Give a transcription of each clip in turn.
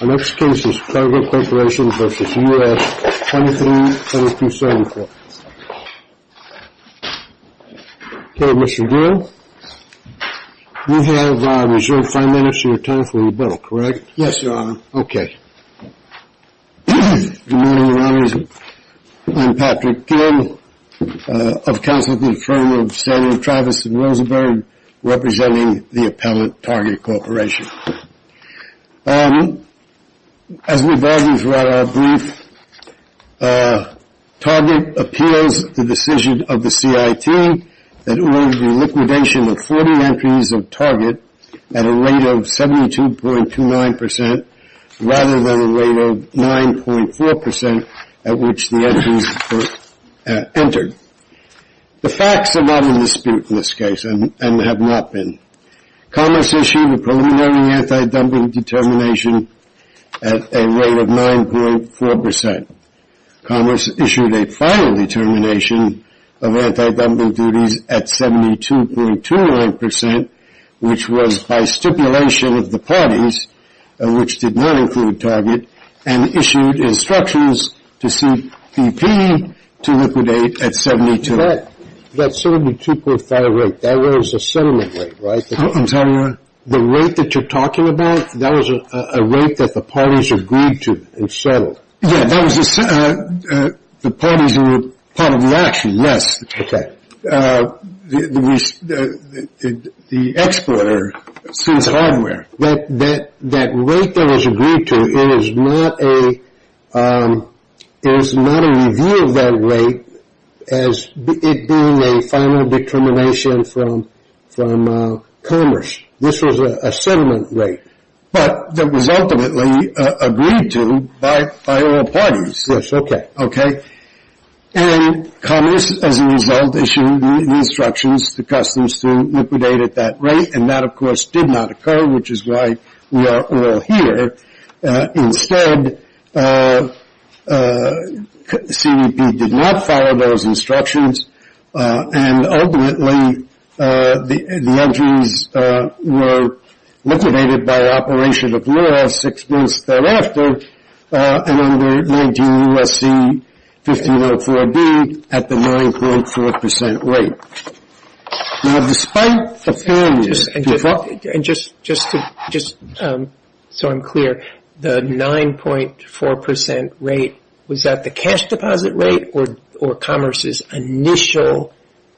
v. U.S. 237274. Okay, Mr. Gill, you have a reserved five minutes to return for your bill, correct? Yes, Your Honor. Okay. Good morning, Your Honors. I'm Patrick Gill of counsel at the firm of Senator Travis Rosenberg, representing the appellate Target Corporation. As we've already read our brief, Target appeals the decision of the C.I.T. that it will be liquidation of 40 entries of Target at a rate of 72.29 percent rather than a rate of 9.4 percent at which the entries were entered. The facts are not in dispute in this case and have not been. Commerce issued a preliminary anti-dumping determination at a rate of 9.4 percent. Commerce issued a final determination of anti-dumping duties at 72.29 percent, which was by stipulation of the parties, which did not include Target, and issued instructions to C.P.P. to liquidate at 72. That's sort of a 2.5 rate. That was a settlement rate, right? I'm sorry, Your Honor? The rate that you're talking about, that was a rate that the parties agreed to and settled. Yeah, that was the parties who were part of the action. Yes. Okay. The exporter, Sins Hardware. That rate that was agreed to, it is not a review of that rate as it being a final determination from Commerce. This was a settlement rate, but that was ultimately agreed to by all parties. Yes. Okay. Okay. And Commerce, as a result, issued instructions to customers to liquidate at that rate, and that, of course, did not occur, which is why we are all here. Instead, C.P.P. did not follow those instructions, and ultimately, the entries were liquidated by operation of law six months thereafter, and under 19 U.S.C. 1504B at the 9.4 percent rate. Now, despite the failure to follow... And just so I'm clear, the 9.4 percent rate, was that the cash deposit rate or Commerce's initial...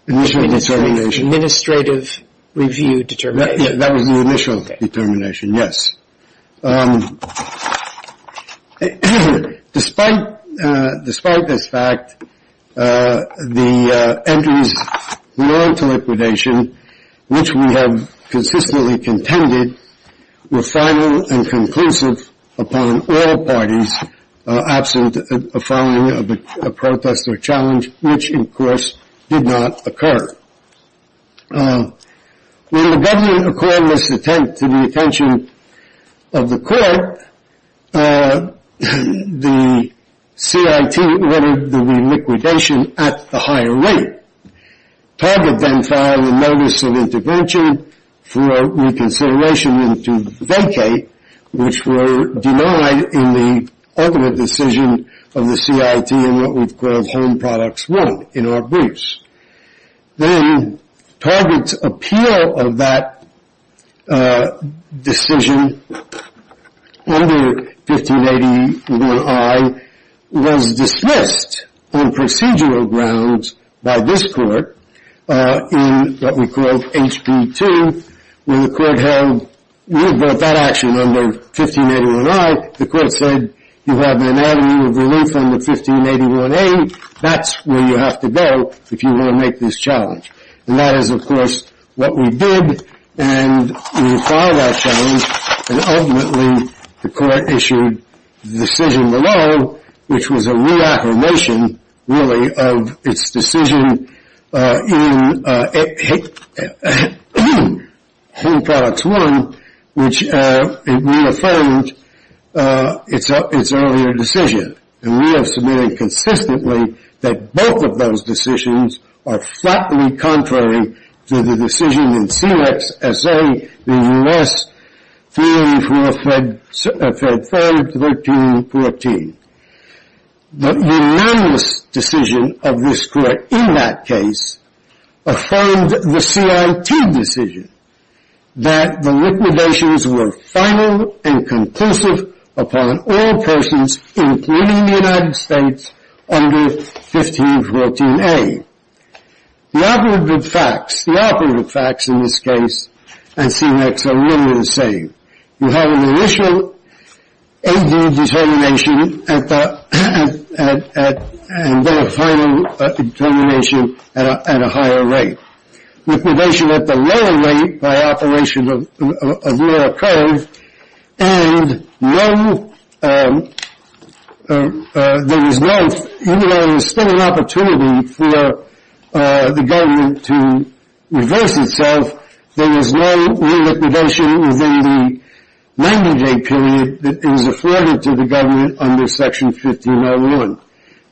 Initial determination. ...administrative review determination? That was the initial determination, yes. Yes. Despite this fact, the entries we owe to liquidation, which we have consistently contended, were final and conclusive upon all parties, absent a following of a protest or challenge, which, of course, did not occur. When the government accorded this attempt to the attention of the court, the C.I.T. ordered the liquidation at the higher rate. Target then filed a notice of intervention for reconsideration into vacay, which were denied in the ultimate decision of the C.I.T. in what we've called Home Products 1, in our briefs. Then Target's appeal of that decision under 1581I was dismissed on procedural grounds by this court in what we called H.P. 2, where the court held... We had brought that action under 1581I. The court said, you have an anatomy of relief under 1581A. That's where you have to go if you want to make this challenge. And that is, of course, what we did. And we filed that challenge. And ultimately, the court issued the decision below, which was a reaffirmation, really, of its decision in Home Products 1, which reaffirmed its earlier decision. And we have submitted consistently that both of those decisions are flatly contrary to the decision in C.L.E.X. S.A., the U.S. theory for a Fed Fund 1314. The unanimous decision of this court in that case affirmed the C.I.T. decision that the liquidations were final and conclusive upon all persons, including the United States, under 1514A. The operative facts in this case and C.L.E.X. are really the same. You have an initial A.D. determination and then a final determination at a higher rate. Liquidation at the lower rate by operation of lower curve. And even though there's still an opportunity for the government to reverse itself, there is no re-liquidation within the 90-day period that is afforded to the government under Section 1501.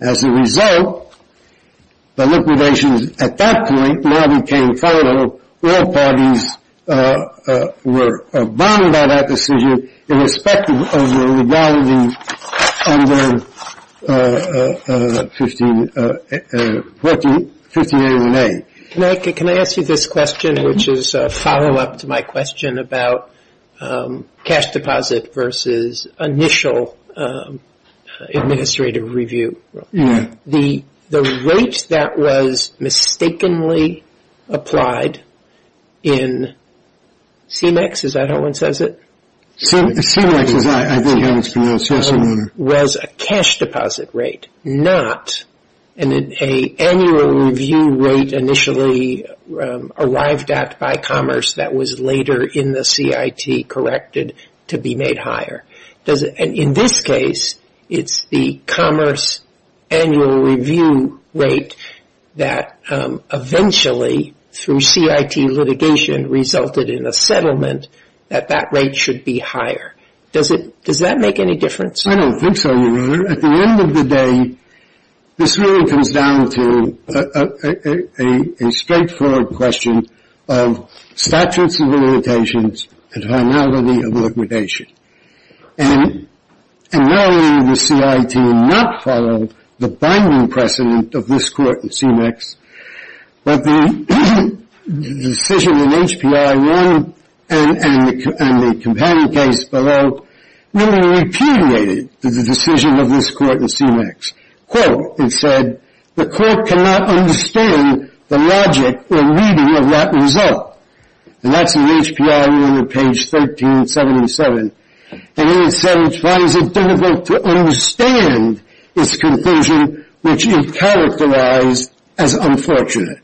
As a result, the liquidations at that point now became final. All parties were bound by that decision irrespective of the legality under 1518A. Can I ask you this question, which is a follow-up to my question about cash deposit versus initial administrative review. The rate that was mistakenly applied in C.L.E.X., is that how one says it? C.L.E.X. was a cash deposit rate, not an annual review rate initially arrived at by commerce that was later in the C.I.T. corrected to be made higher. In this case, it's the commerce annual review rate that eventually through C.I.T. litigation resulted in a settlement that that rate should be higher. Does that make any difference? I don't think so, Your Honor. At the end of the day, this really comes down to a straightforward question of statutes of limitations and finality of liquidation. And not only did the C.I.T. not follow the binding precedent of this court in C.L.E.X., but the decision in H.P.I. 1 and the companion case below really repudiated the decision of this court in C.L.E.X. Quote, it said, the court cannot understand the logic or reading of that result. And that's in H.P.I. 1 on page 1377. And here it says, why is it difficult to understand its conclusion, which is characterized as unfortunate?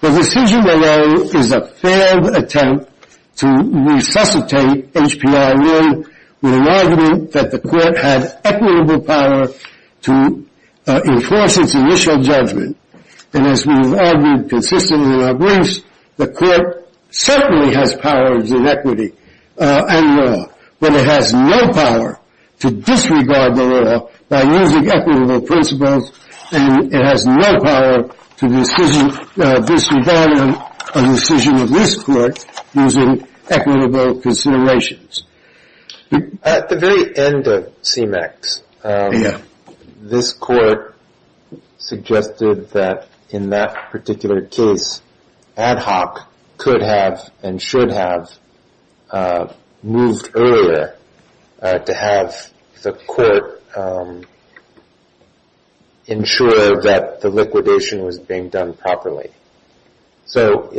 The decision below is a failed attempt to resuscitate H.P.I. 1 with an argument that the court had equitable power to enforce its initial judgment. And as we have argued consistently in our briefs, the court certainly has powers in equity and law. But it has no power to disregard the law by using equitable principles. And it has no power to disregard a decision of this court using equitable considerations. At the very end of C.M.E.X., this court suggested that in that particular case, ad hoc could have and should have moved earlier to have the court ensure that the liquidation was being done properly. So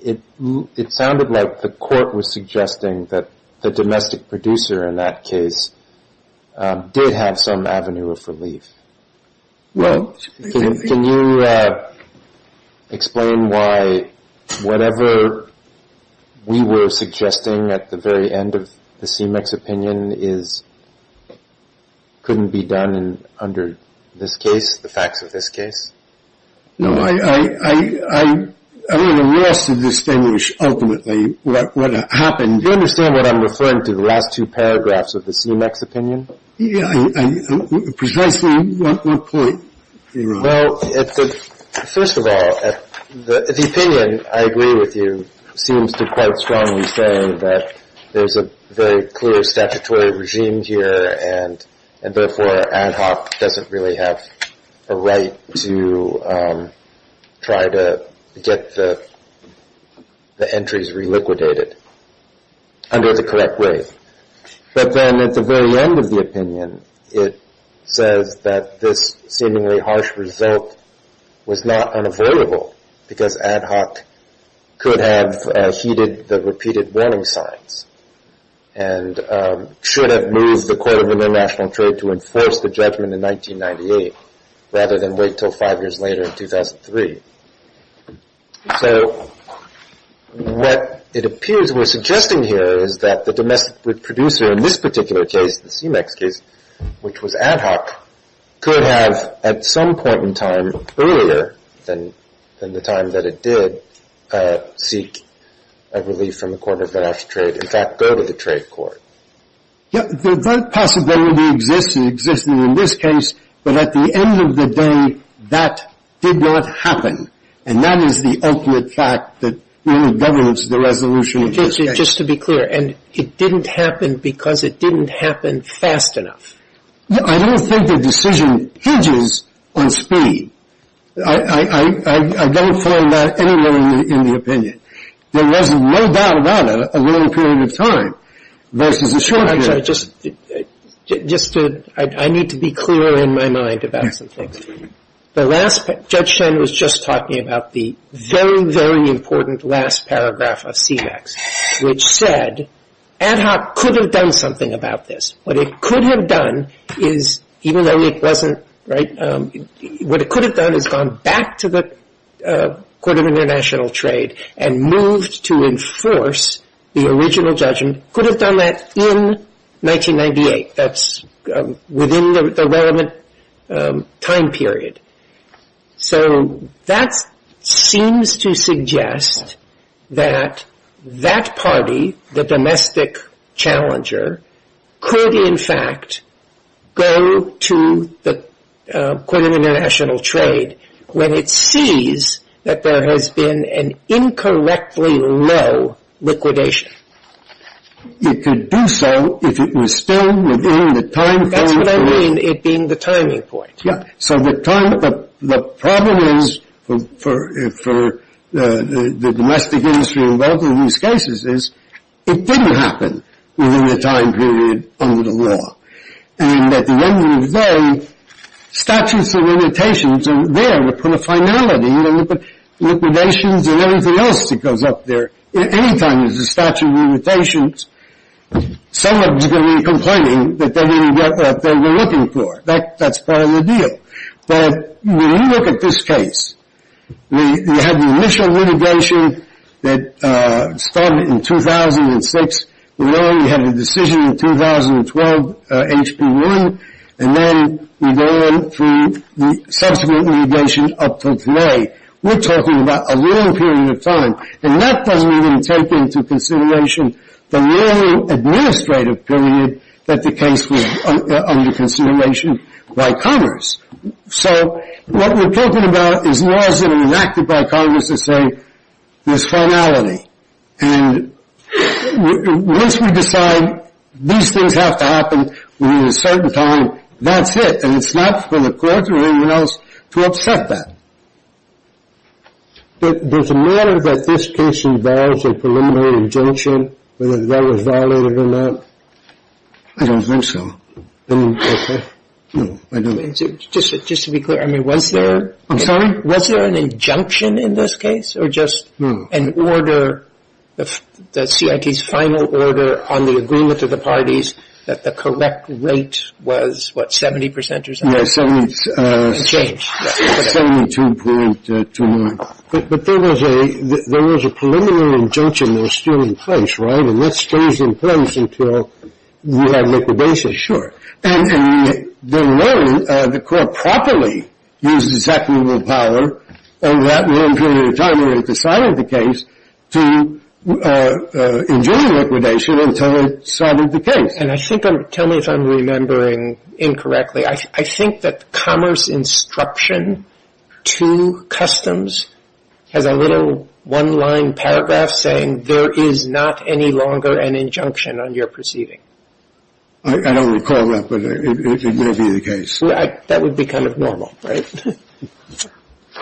it sounded like the court was suggesting that the domestic producer in that case did have some avenue of relief. Well, can you explain why whatever we were suggesting at the very end of the C.M.E.X. opinion couldn't be done under this case, the facts of this case? No, I'm at a loss to distinguish ultimately what happened. Do you understand what I'm referring to the last two paragraphs of the C.M.E.X. opinion? Yeah, precisely what point you're on? Well, first of all, the opinion, I agree with you, seems to quite strongly say that there's a very clear statutory regime here and therefore ad hoc doesn't really have a right to try to get the entries reliquidated under the correct way. But then at the very end of the opinion, it says that this seemingly harsh result was not unavoidable because ad hoc could have heeded the repeated warning signs and should have moved the Court of International Trade to enforce the judgment in 1998 rather than wait until five years later in 2003. So what it appears we're suggesting here is that the domestic producer in this particular case, the C.M.E.X. case, which was ad hoc, could have at some point in time earlier than the time that it did seek a relief from the Court of International Trade. In fact, go to the trade court. Yeah, that possibility exists in this case. But at the end of the day, that did not happen. And that is the ultimate fact that really governs the resolution of this case. Just to be clear, and it didn't happen because it didn't happen fast enough? I don't think the decision hinges on speed. I don't find that anywhere in the opinion. There was no doubt about it, a long period of time versus a short period. Actually, just to, I need to be clear in my mind about some things. The last, Judge Shen was just talking about the very, very important last paragraph of C.M.E.X., which said ad hoc could have done something about this. What it could have done is, even though it wasn't, right, what it could have done is gone back to the Court of International Trade and moved to enforce the original judgment. Could have done that in 1998. That's within the relevant time period. So that seems to suggest that that party, the domestic challenger, could in fact go to the Court of International Trade when it sees that there has been an incorrectly low liquidation. It could do so if it was still within the time period. That's what I mean, it being the timing point. Yeah. So the problem is, for the domestic industry involved in these cases, is it didn't happen within the time period under the law. And at the end of the day, statutes of limitations are there to put a finality. You know, liquidations and everything else that goes up there. Anytime there's a statute of limitations, someone's going to be complaining that they didn't get what they were looking for. That's part of the deal. But when you look at this case, we had the initial litigation that started in 2006. We know we had a decision in 2012, HB1. And then we go on through the subsequent litigation up to today. We're talking about a long period of time. And that doesn't even take into consideration the long administrative period that the case was under consideration by Congress. So what we're talking about is laws that are enacted by Congress that say there's finality. And once we decide these things have to happen within a certain time, that's it. And it's not for the court or anyone else to upset that. Does it matter that this case involves a preliminary injunction, whether that was violated or not? I don't think so. No, I don't think so. Just to be clear, I mean, was there... I'm sorry? Was there an injunction in this case? Or just an order, the CIT's final order on the agreement to the parties that the correct rate was, what, 70% or something? Yeah, 72.29. But there was a preliminary injunction that was still in place, right? And that stays in place until we have liquidation. And the court properly used executive power over that long period of time when it decided the case to enjoin liquidation until it solved the case. And I think I'm... Tell me if I'm remembering incorrectly. I think that Commerce Instruction to Customs has a little one-line paragraph saying there is not any longer an injunction on your proceeding. I don't recall that, but it may be the case. That would be kind of normal, right?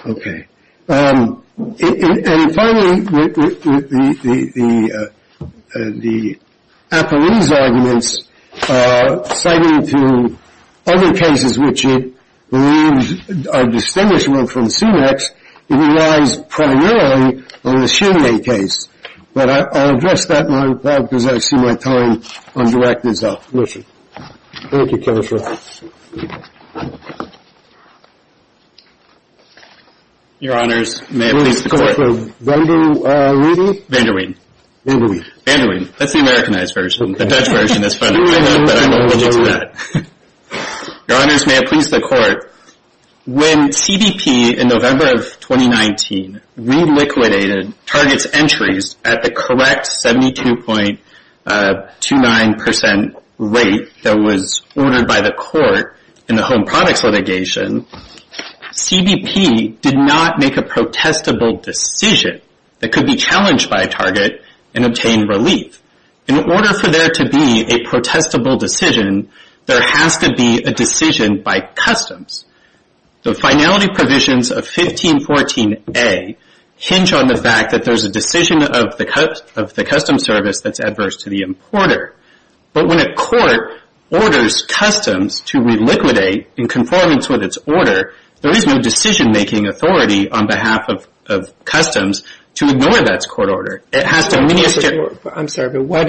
Okay. And finally, the Apolline's arguments citing to other cases which it believes are distinguishable from CMEX, it relies primarily on the Chimney case. But I'll address that in my talk because I see my time on the record is up. Listen. Thank you, Counselor. Your Honors, may it please the Court. Van der Weede? Van der Weede. Van der Weede. Van der Weede. That's the Americanized version. The Dutch version is funnier, but I'm allergic to that. Your Honors, may it please the Court. When CBP in November of 2019 reliquidated Target's entries at the correct 72.29% rate that was ordered by the Court in the Home Products litigation, CBP did not make a protestable decision that could be challenged by Target and obtain relief. In order for there to be a protestable decision, there has to be a decision by Customs. The finality provisions of 1514A hinge on the fact that there's a decision of the Customs Service that's adverse to the importer. But when a Court orders Customs to reliquidate in conformance with its order, there is no decision-making authority on behalf of Customs to ignore that Court order. It has to minister... I'm sorry, but why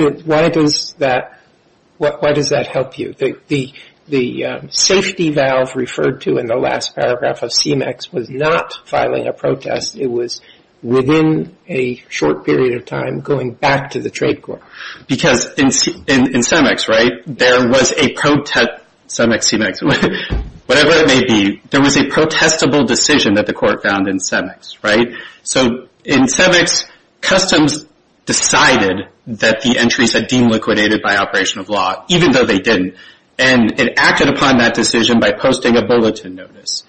does that help you? The safety valve referred to in the last paragraph of CMEX was not filing a protest. It was within a short period of time going back to the Trade Corps. Because in CMEX, right, there was a protest... CMEX, CMEX, whatever it may be, there was a protestable decision that the Court found in CMEX, right? So in CMEX, Customs decided that the entries had been liquidated by operation of law, even though they didn't. And it acted upon that decision by posting a bulletin notice.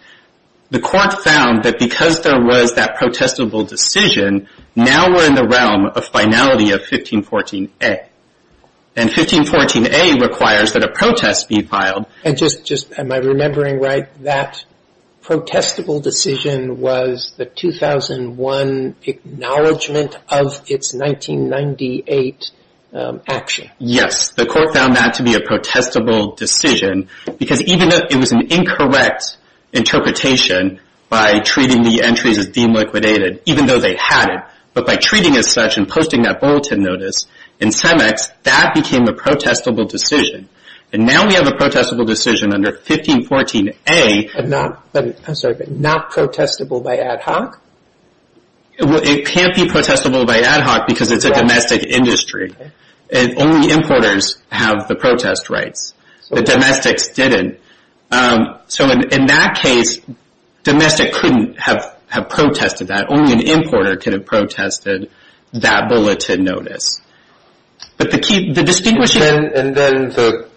The Court found that because there was that protestable decision, now we're in the realm of finality of 1514A. And 1514A requires that a protest be filed. And just, am I remembering right, that protestable decision was the 2001 acknowledgement of its 1998 action? Yes, the Court found that to be a protestable decision because even though it was an incorrect interpretation by treating the entries as being liquidated, even though they had it, but by treating as such and posting that bulletin notice in CMEX, that became a protestable decision. And now we have a protestable decision under 1514A... And not, I'm sorry, but not protestable by ad hoc? It can't be protestable by ad hoc because it's a domestic industry. And only importers have the protest rights. The domestics didn't. So in that case, domestic couldn't have protested that. Only an importer could have protested that bulletin notice. But the key, the distinguishing... And then the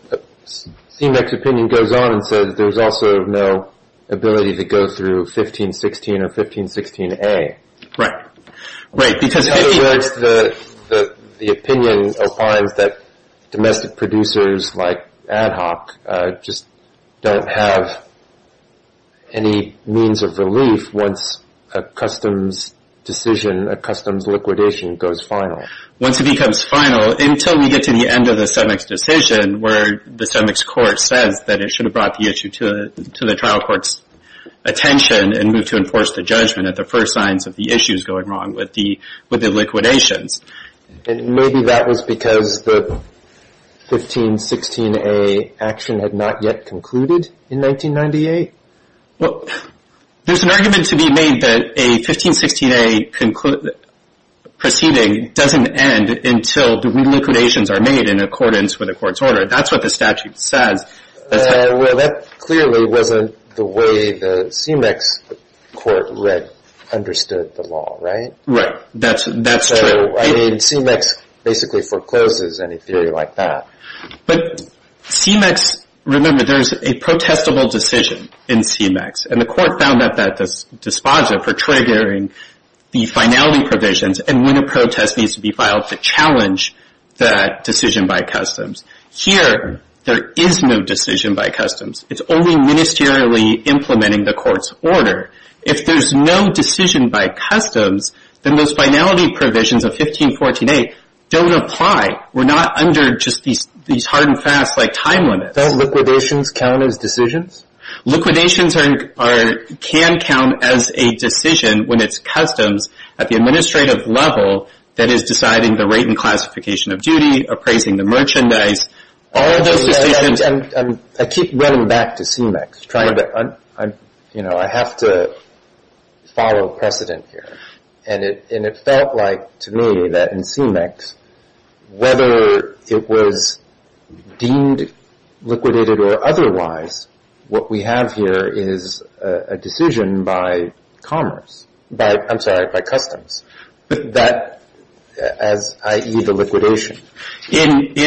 CMEX opinion goes on and says there's also no ability to go through 1516 or 1516A. Right, right. Because otherwise the opinion opines that domestic producers like ad hoc just don't have any means of relief once a customs decision, a customs liquidation goes final. Once it becomes final, until we get to the end of the CMEX decision, where the CMEX court says that it should have brought the issue to the trial court's attention and move to enforce the judgment at the first signs of the issues going wrong with the liquidations. And maybe that was because the 1516A action had not yet concluded in 1998? Well, there's an argument to be made that a 1516A proceeding doesn't end until the liquidations are made in accordance with the court's order. That's what the statute says. Well, that clearly wasn't the way the CMEX court understood the law, right? Right, that's true. I mean, CMEX basically forecloses any theory like that. But CMEX... Remember, there's a protestable decision in CMEX. And the court found that this disposa for triggering the finality provisions and when a protest needs to be filed to challenge that decision by customs. Here, there is no decision by customs. It's only ministerially implementing the court's order. If there's no decision by customs, then those finality provisions of 1514A don't apply. We're not under just these hard and fast time limits. Don't liquidations count as decisions? Liquidations can count as a decision when it's customs at the administrative level that is deciding the rate and classification of duty, appraising the merchandise, all those decisions... And I keep running back to CMEX, trying to... You know, I have to follow precedent here. And it felt like to me that in CMEX, whether it was deemed liquidated or otherwise, what we have here is a decision by commerce. By, I'm sorry, by customs. As, i.e., the liquidation. In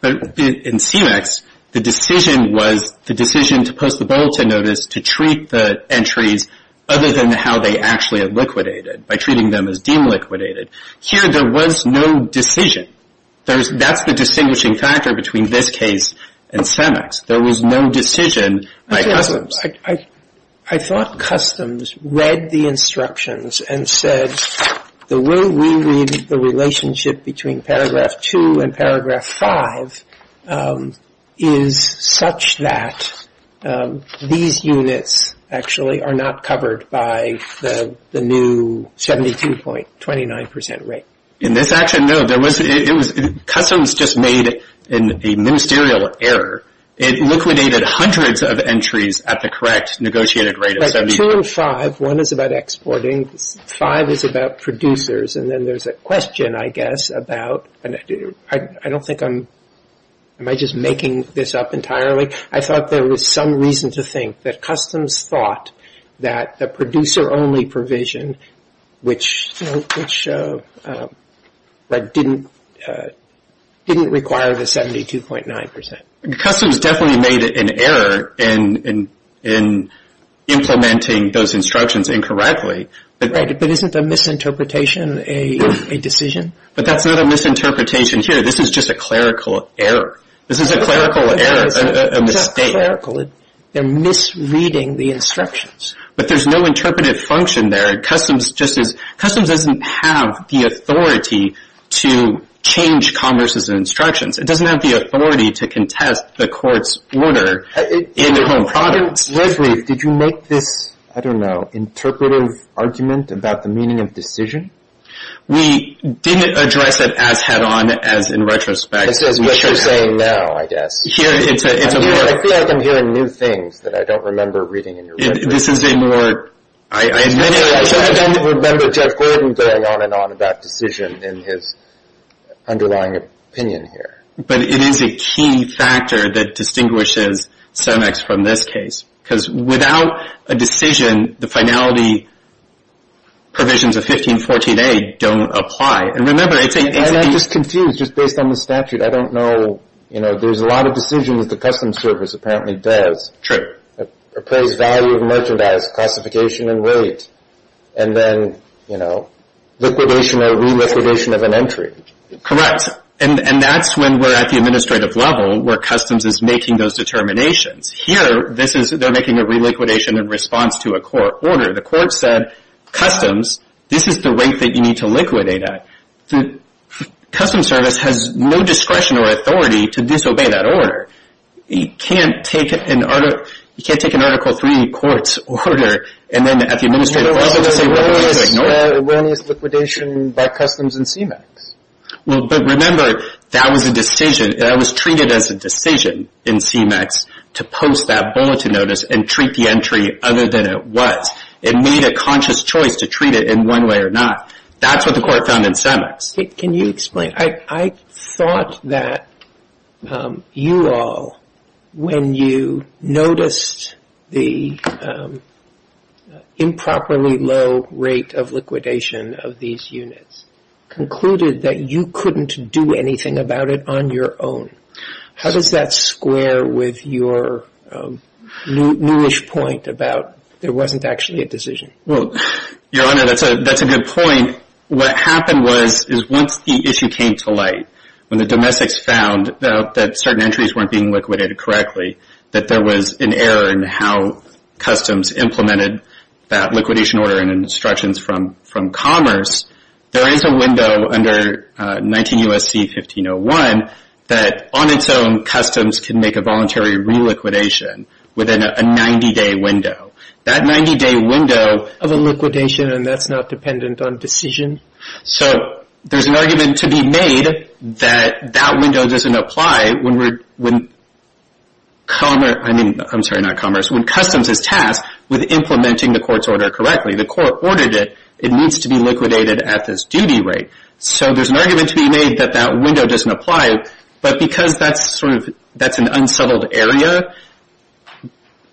CMEX, the decision was the decision to post the Bolton notice to treat the entries other than how they actually are liquidated by treating them as deemed liquidated. Here, there was no decision. That's the distinguishing factor between this case and CMEX. There was no decision by customs. I thought customs read the instructions and said, the way we read the relationship between paragraph two and paragraph five is such that these units actually are not covered by the new 72.29% rate. In this action, no. Customs just made a ministerial error. It liquidated hundreds of entries at the correct negotiated rate of 72. Two and five. One is about exporting. Five is about producers. And then there's a question, I guess, about... I don't think I'm... Am I just making this up entirely? I thought there was some reason to think that customs thought that the producer-only provision, which didn't require the 72.9%. Customs definitely made an error in implementing those instructions incorrectly. But isn't a misinterpretation a decision? But that's not a misinterpretation here. This is just a clerical error. This is a clerical error, a mistake. They're misreading the instructions. But there's no interpretive function there. Customs doesn't have the authority to change converse's instructions. It doesn't have the authority to contest the court's order in Home Products. Leslie, did you make this, I don't know, interpretive argument about the meaning of decision? We didn't address it as head-on as in retrospect. This is what you're saying now, I guess. I feel like I'm hearing new things that I don't remember reading in your book. This is a more... I don't remember Judge Gordon going on and on about decision in his underlying opinion here. It is a key factor that distinguishes Sonex from this case. Because without a decision, the finality provisions of 1514A don't apply. And remember, it's a... And I'm just confused, just based on the statute. I don't know, you know, there's a lot of decisions the Customs Service apparently does. Proposed value of merchandise, classification and weight. And then, you know, liquidation or re-liquidation of an entry. Correct. And that's when we're at the administrative level, where Customs is making those determinations. Here, this is, they're making a re-liquidation in response to a court order. The court said, Customs, this is the weight that you need to liquidate at. The Customs Service has no discretion or authority to disobey that order. You can't take an Article III court's order and then at the administrative level just say, well, we're going to ignore it. When is liquidation by Customs and CMAX? Well, but remember, that was a decision. That was treated as a decision in CMAX to post that bulletin notice and treat the entry other than it was. It made a conscious choice to treat it in one way or not. That's what the court found in CMAX. Can you explain? I thought that you all, when you noticed the improperly low rate of liquidation of these units, concluded that you couldn't do anything about it on your own. How does that square with your newish point about there wasn't actually a decision? Well, Your Honor, that's a good point. What happened was, is once the issue came to light, when the domestics found that certain entries weren't being liquidated correctly, that there was an error in how Customs implemented that liquidation order and instructions from Commerce, there is a window under 19 U.S.C. 1501 that, on its own, Customs can make a voluntary reliquidation within a 90-day window. That 90-day window... Of a liquidation, and that's not dependent on decision? So there's an argument to be made that that window doesn't apply when Commerce... I mean, I'm sorry, not Commerce. When Customs is tasked with implementing the court's order correctly, the court ordered it, it needs to be liquidated at this duty rate. So there's an argument to be made that that window doesn't apply, but because that's an unsettled area,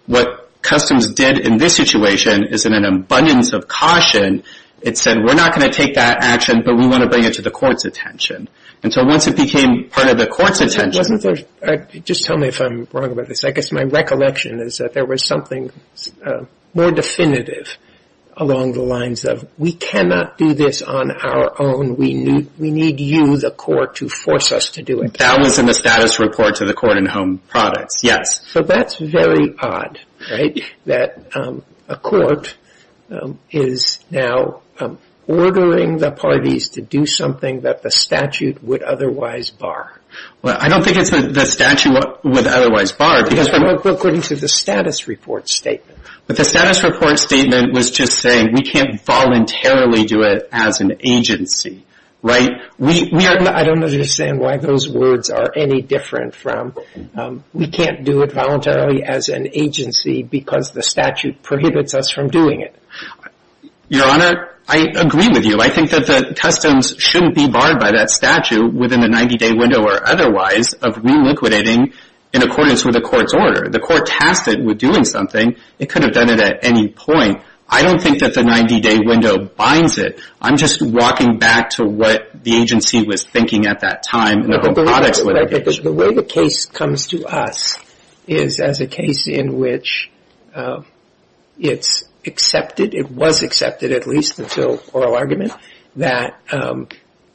what Customs did in this situation is, in an abundance of caution, it said, we're not going to take that action, but we want to bring it to the court's attention. And so once it became part of the court's attention... Wasn't there... Just tell me if I'm wrong about this. I guess my recollection is that there was something more definitive along the lines of, we cannot do this on our own. We need you, the court, to force us to do it. That was in the status report to the court in Home Products, yes. So that's very odd, right? That a court is now ordering the parties to do something that the statute would otherwise bar. Well, I don't think it's the statute would otherwise bar because... Well, according to the status report statement. But the status report statement was just saying, we can't voluntarily do it as an agency, right? I don't understand why those words are any different from, we can't do it voluntarily as an agency because the statute prohibits us from doing it. Your Honor, I agree with you. I think that the Customs shouldn't be barred by that statute within the 90-day window or otherwise of reliquidating in accordance with the court's order. The court tasked it with doing something. It could have done it at any point. I don't think that the 90-day window binds it. I'm just walking back to what the agency was thinking at that time. The way the case comes to us is as a case in which it's accepted, it was accepted at least until oral argument, that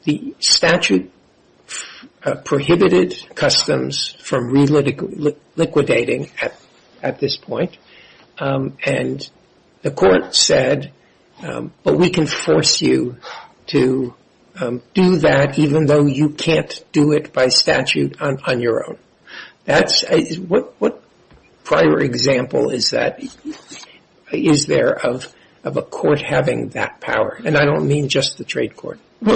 the statute prohibited Customs from liquidating at this point. And the court said, but we can force you to do that even though you can't do it by statute on your own. What prior example is there of a court having that power? And I don't mean just the trade court. It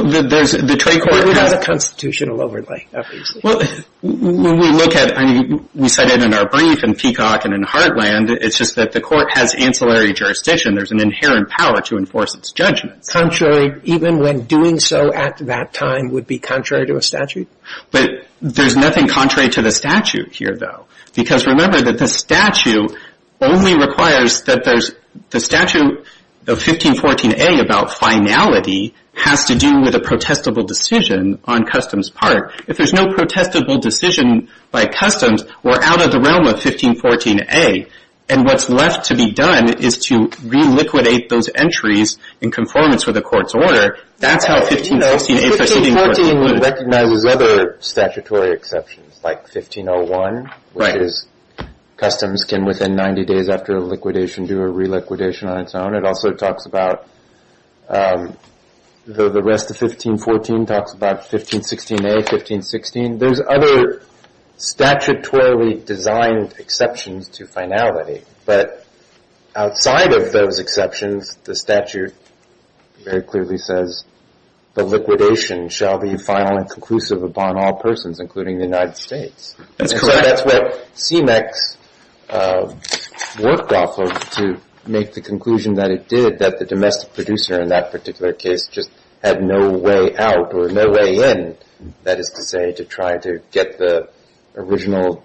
would have a constitutional overlay, obviously. Well, when we look at, I mean, we said it in our brief in Peacock and in Heartland, it's just that the court has ancillary jurisdiction. There's an inherent power to enforce its judgments. Contrary even when doing so at that time would be contrary to a statute? But there's nothing contrary to the statute here, though. Because remember that the statute only requires that there's, the statute of 1514A about finality has to do with a protestable decision on Customs' part. If there's no protestable decision by Customs, we're out of the realm of 1514A. And what's left to be done is to reliquidate those entries in conformance with the court's order. That's how 1514A proceeding would have been. 1514 would recognize other statutory exceptions, like 1501, which is Customs can, within 90 days after a liquidation, do a reliquidation on its own. It also talks about the rest of 1514, talks about 1516A, 1516. There's other statutorily designed exceptions to finality. But outside of those exceptions, the statute very clearly says, the liquidation shall be final and conclusive upon all persons, including the United States. And so that's what CMEX worked off of to make the conclusion that it did, that the domestic producer in that particular case just had no way out, or no way in, that is to say, to try to get the original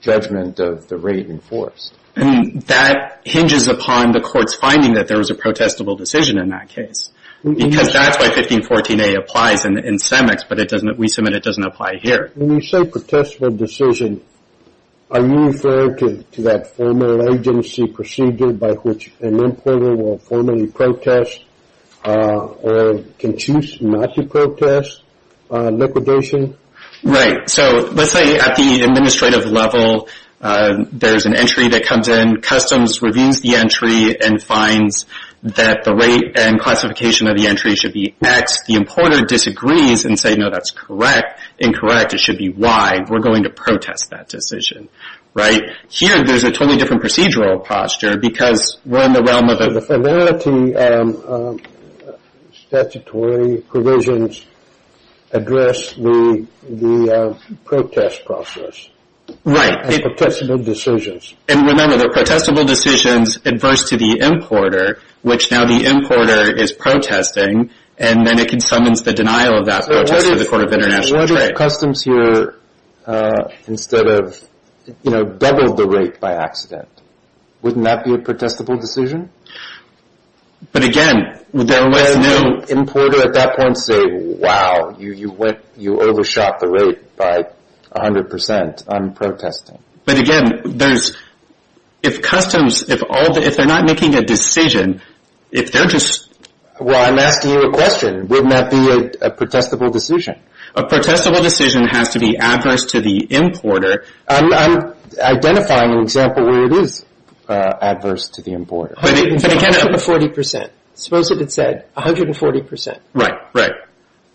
judgment of the rate enforced. And that hinges upon the court's finding that there was a protestable decision in that case. Because that's why 1514A applies in CEMEX, but it doesn't, we submit it doesn't apply here. When you say protestable decision, are you referring to that formal agency procedure by which an importer will formally protest or can choose not to protest liquidation? Right, so let's say at the administrative level, there's an entry that comes in. Customs reviews the entry and finds that the rate and classification of the entry should be X. The importer disagrees and say, no, that's correct. Incorrect, it should be Y. We're going to protest that decision, right? Here, there's a totally different procedural posture, because we're in the realm of... So the familiarity statutory provisions address the protest process. Right. And protestable decisions. And remember, the protestable decisions adverse to the importer, which now the importer is protesting, and then it can summons the denial of that protest to the Court of International Trade. So what if customs here, instead of, you know, doubled the rate by accident? Wouldn't that be a protestable decision? But again, there was no... Would the importer at that point say, wow, you overshot the rate by 100% on protesting? But again, if customs, if they're not making a decision, if they're just... Well, I'm asking you a question. Wouldn't that be a protestable decision? A protestable decision has to be adverse to the importer. I'm identifying an example where it is adverse to the importer. Suppose it had said 140%. Right, right.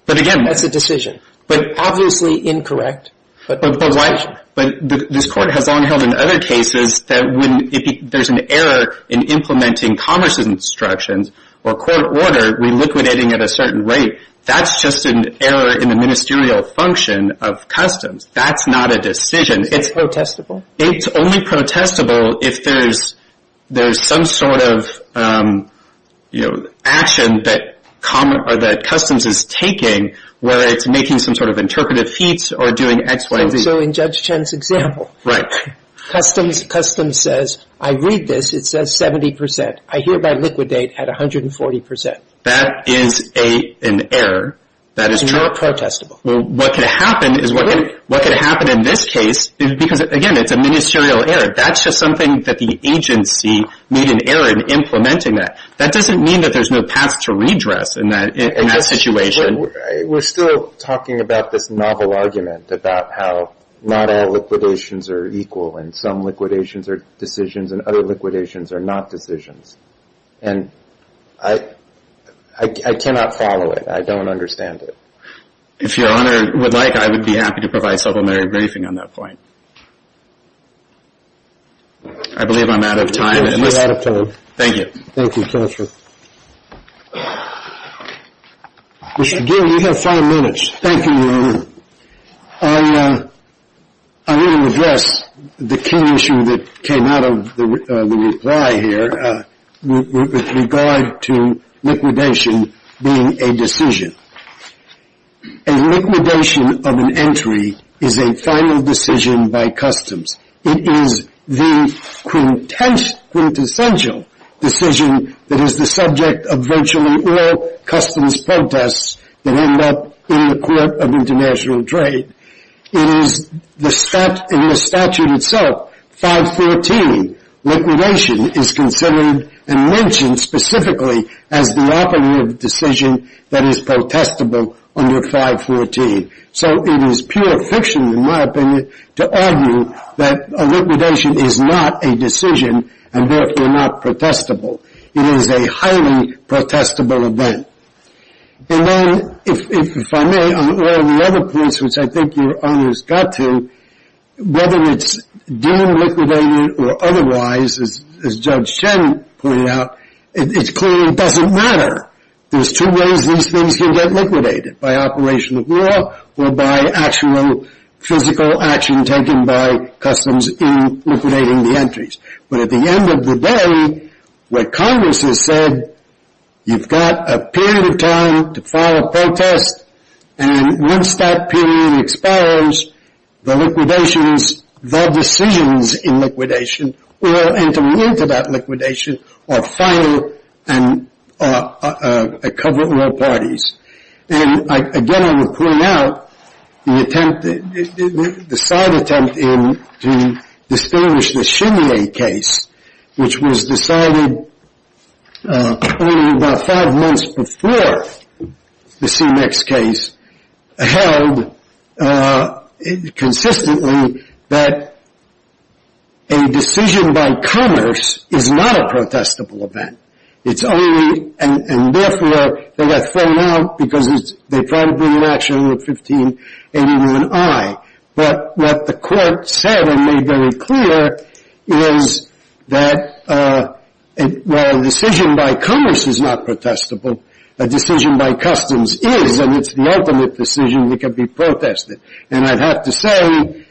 But again... That's a decision. But obviously incorrect. But why? But this court has long held in other cases that when there's an error in implementing commerce's instructions or court order reliquidating at a certain rate, that's just an error in the ministerial function of customs. That's not a decision. It's protestable. It's only protestable if there's some sort of, you know, action that customs is taking, where it's making some sort of interpretive feats or doing X, Y, and Z. So in Judge Chen's example, customs says, I read this, it says 70%. I hereby liquidate at 140%. That is an error. That is not protestable. What could happen in this case, because again, it's a ministerial error. That's just something that the agency made an error in implementing that. That doesn't mean that there's no path to redress in that situation. We're still talking about this novel argument about how not all liquidations are equal and some liquidations are decisions and other liquidations are not decisions. And I cannot follow it. I don't understand it. If Your Honor would like, I would be happy to provide subliminary briefing on that point. I believe I'm out of time. You're out of time. Thank you. Thank you, Counselor. Mr. Gill, you have five minutes. Thank you, Your Honor. I need to address the key issue that came out of the reply here with regard to liquidation being a decision. A liquidation of an entry is a final decision by customs. It is the quintessential decision that is the subject of virtually all customs protests that end up in the Court of International Trade. It is in the statute itself, 513, liquidation is considered and mentioned specifically as the operative decision that is protestable under 514. So it is pure fiction, in my opinion, to argue that a liquidation is not a decision and therefore not protestable. It is a highly protestable event. And then, if I may, on all the other points which I think Your Honor's got to, whether it's deemed liquidated or otherwise, as Judge Chen pointed out, it clearly doesn't matter. There's two ways these things can get liquidated, by operation of law or by actual physical action taken by customs in liquidating the entries. But at the end of the day, what Congress has said, you've got a period of time to file a protest, and once that period expires, the liquidations, the decisions in liquidation, will enter into that liquidation or file and cover all parties. And again, I would point out the side attempt to distinguish the Shinye case, which was decided only about five months before the CMEX case, held consistently that a decision by Congress is not a protestable event. It's only, and therefore, they got thrown out because they tried to bring an action under 1581i. But what the court said and made very clear is that while a decision by Congress is not protestable, a decision by customs is, and it's the ultimate decision that can be protested. And I'd have to say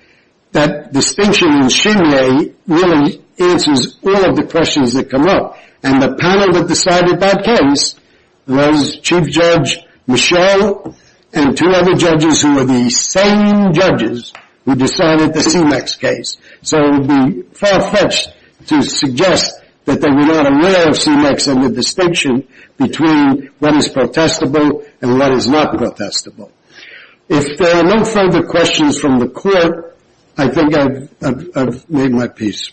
that distinction in Shinye really answers all of the questions that come up. And the panel that decided that case was Chief Judge Michel and two other judges who were the same judges who decided the CMEX case. So it would be far-fetched to suggest that they were not aware of CMEX and the distinction between what is protestable and what is not protestable. If there are no further questions from the court, I think I've made my piece.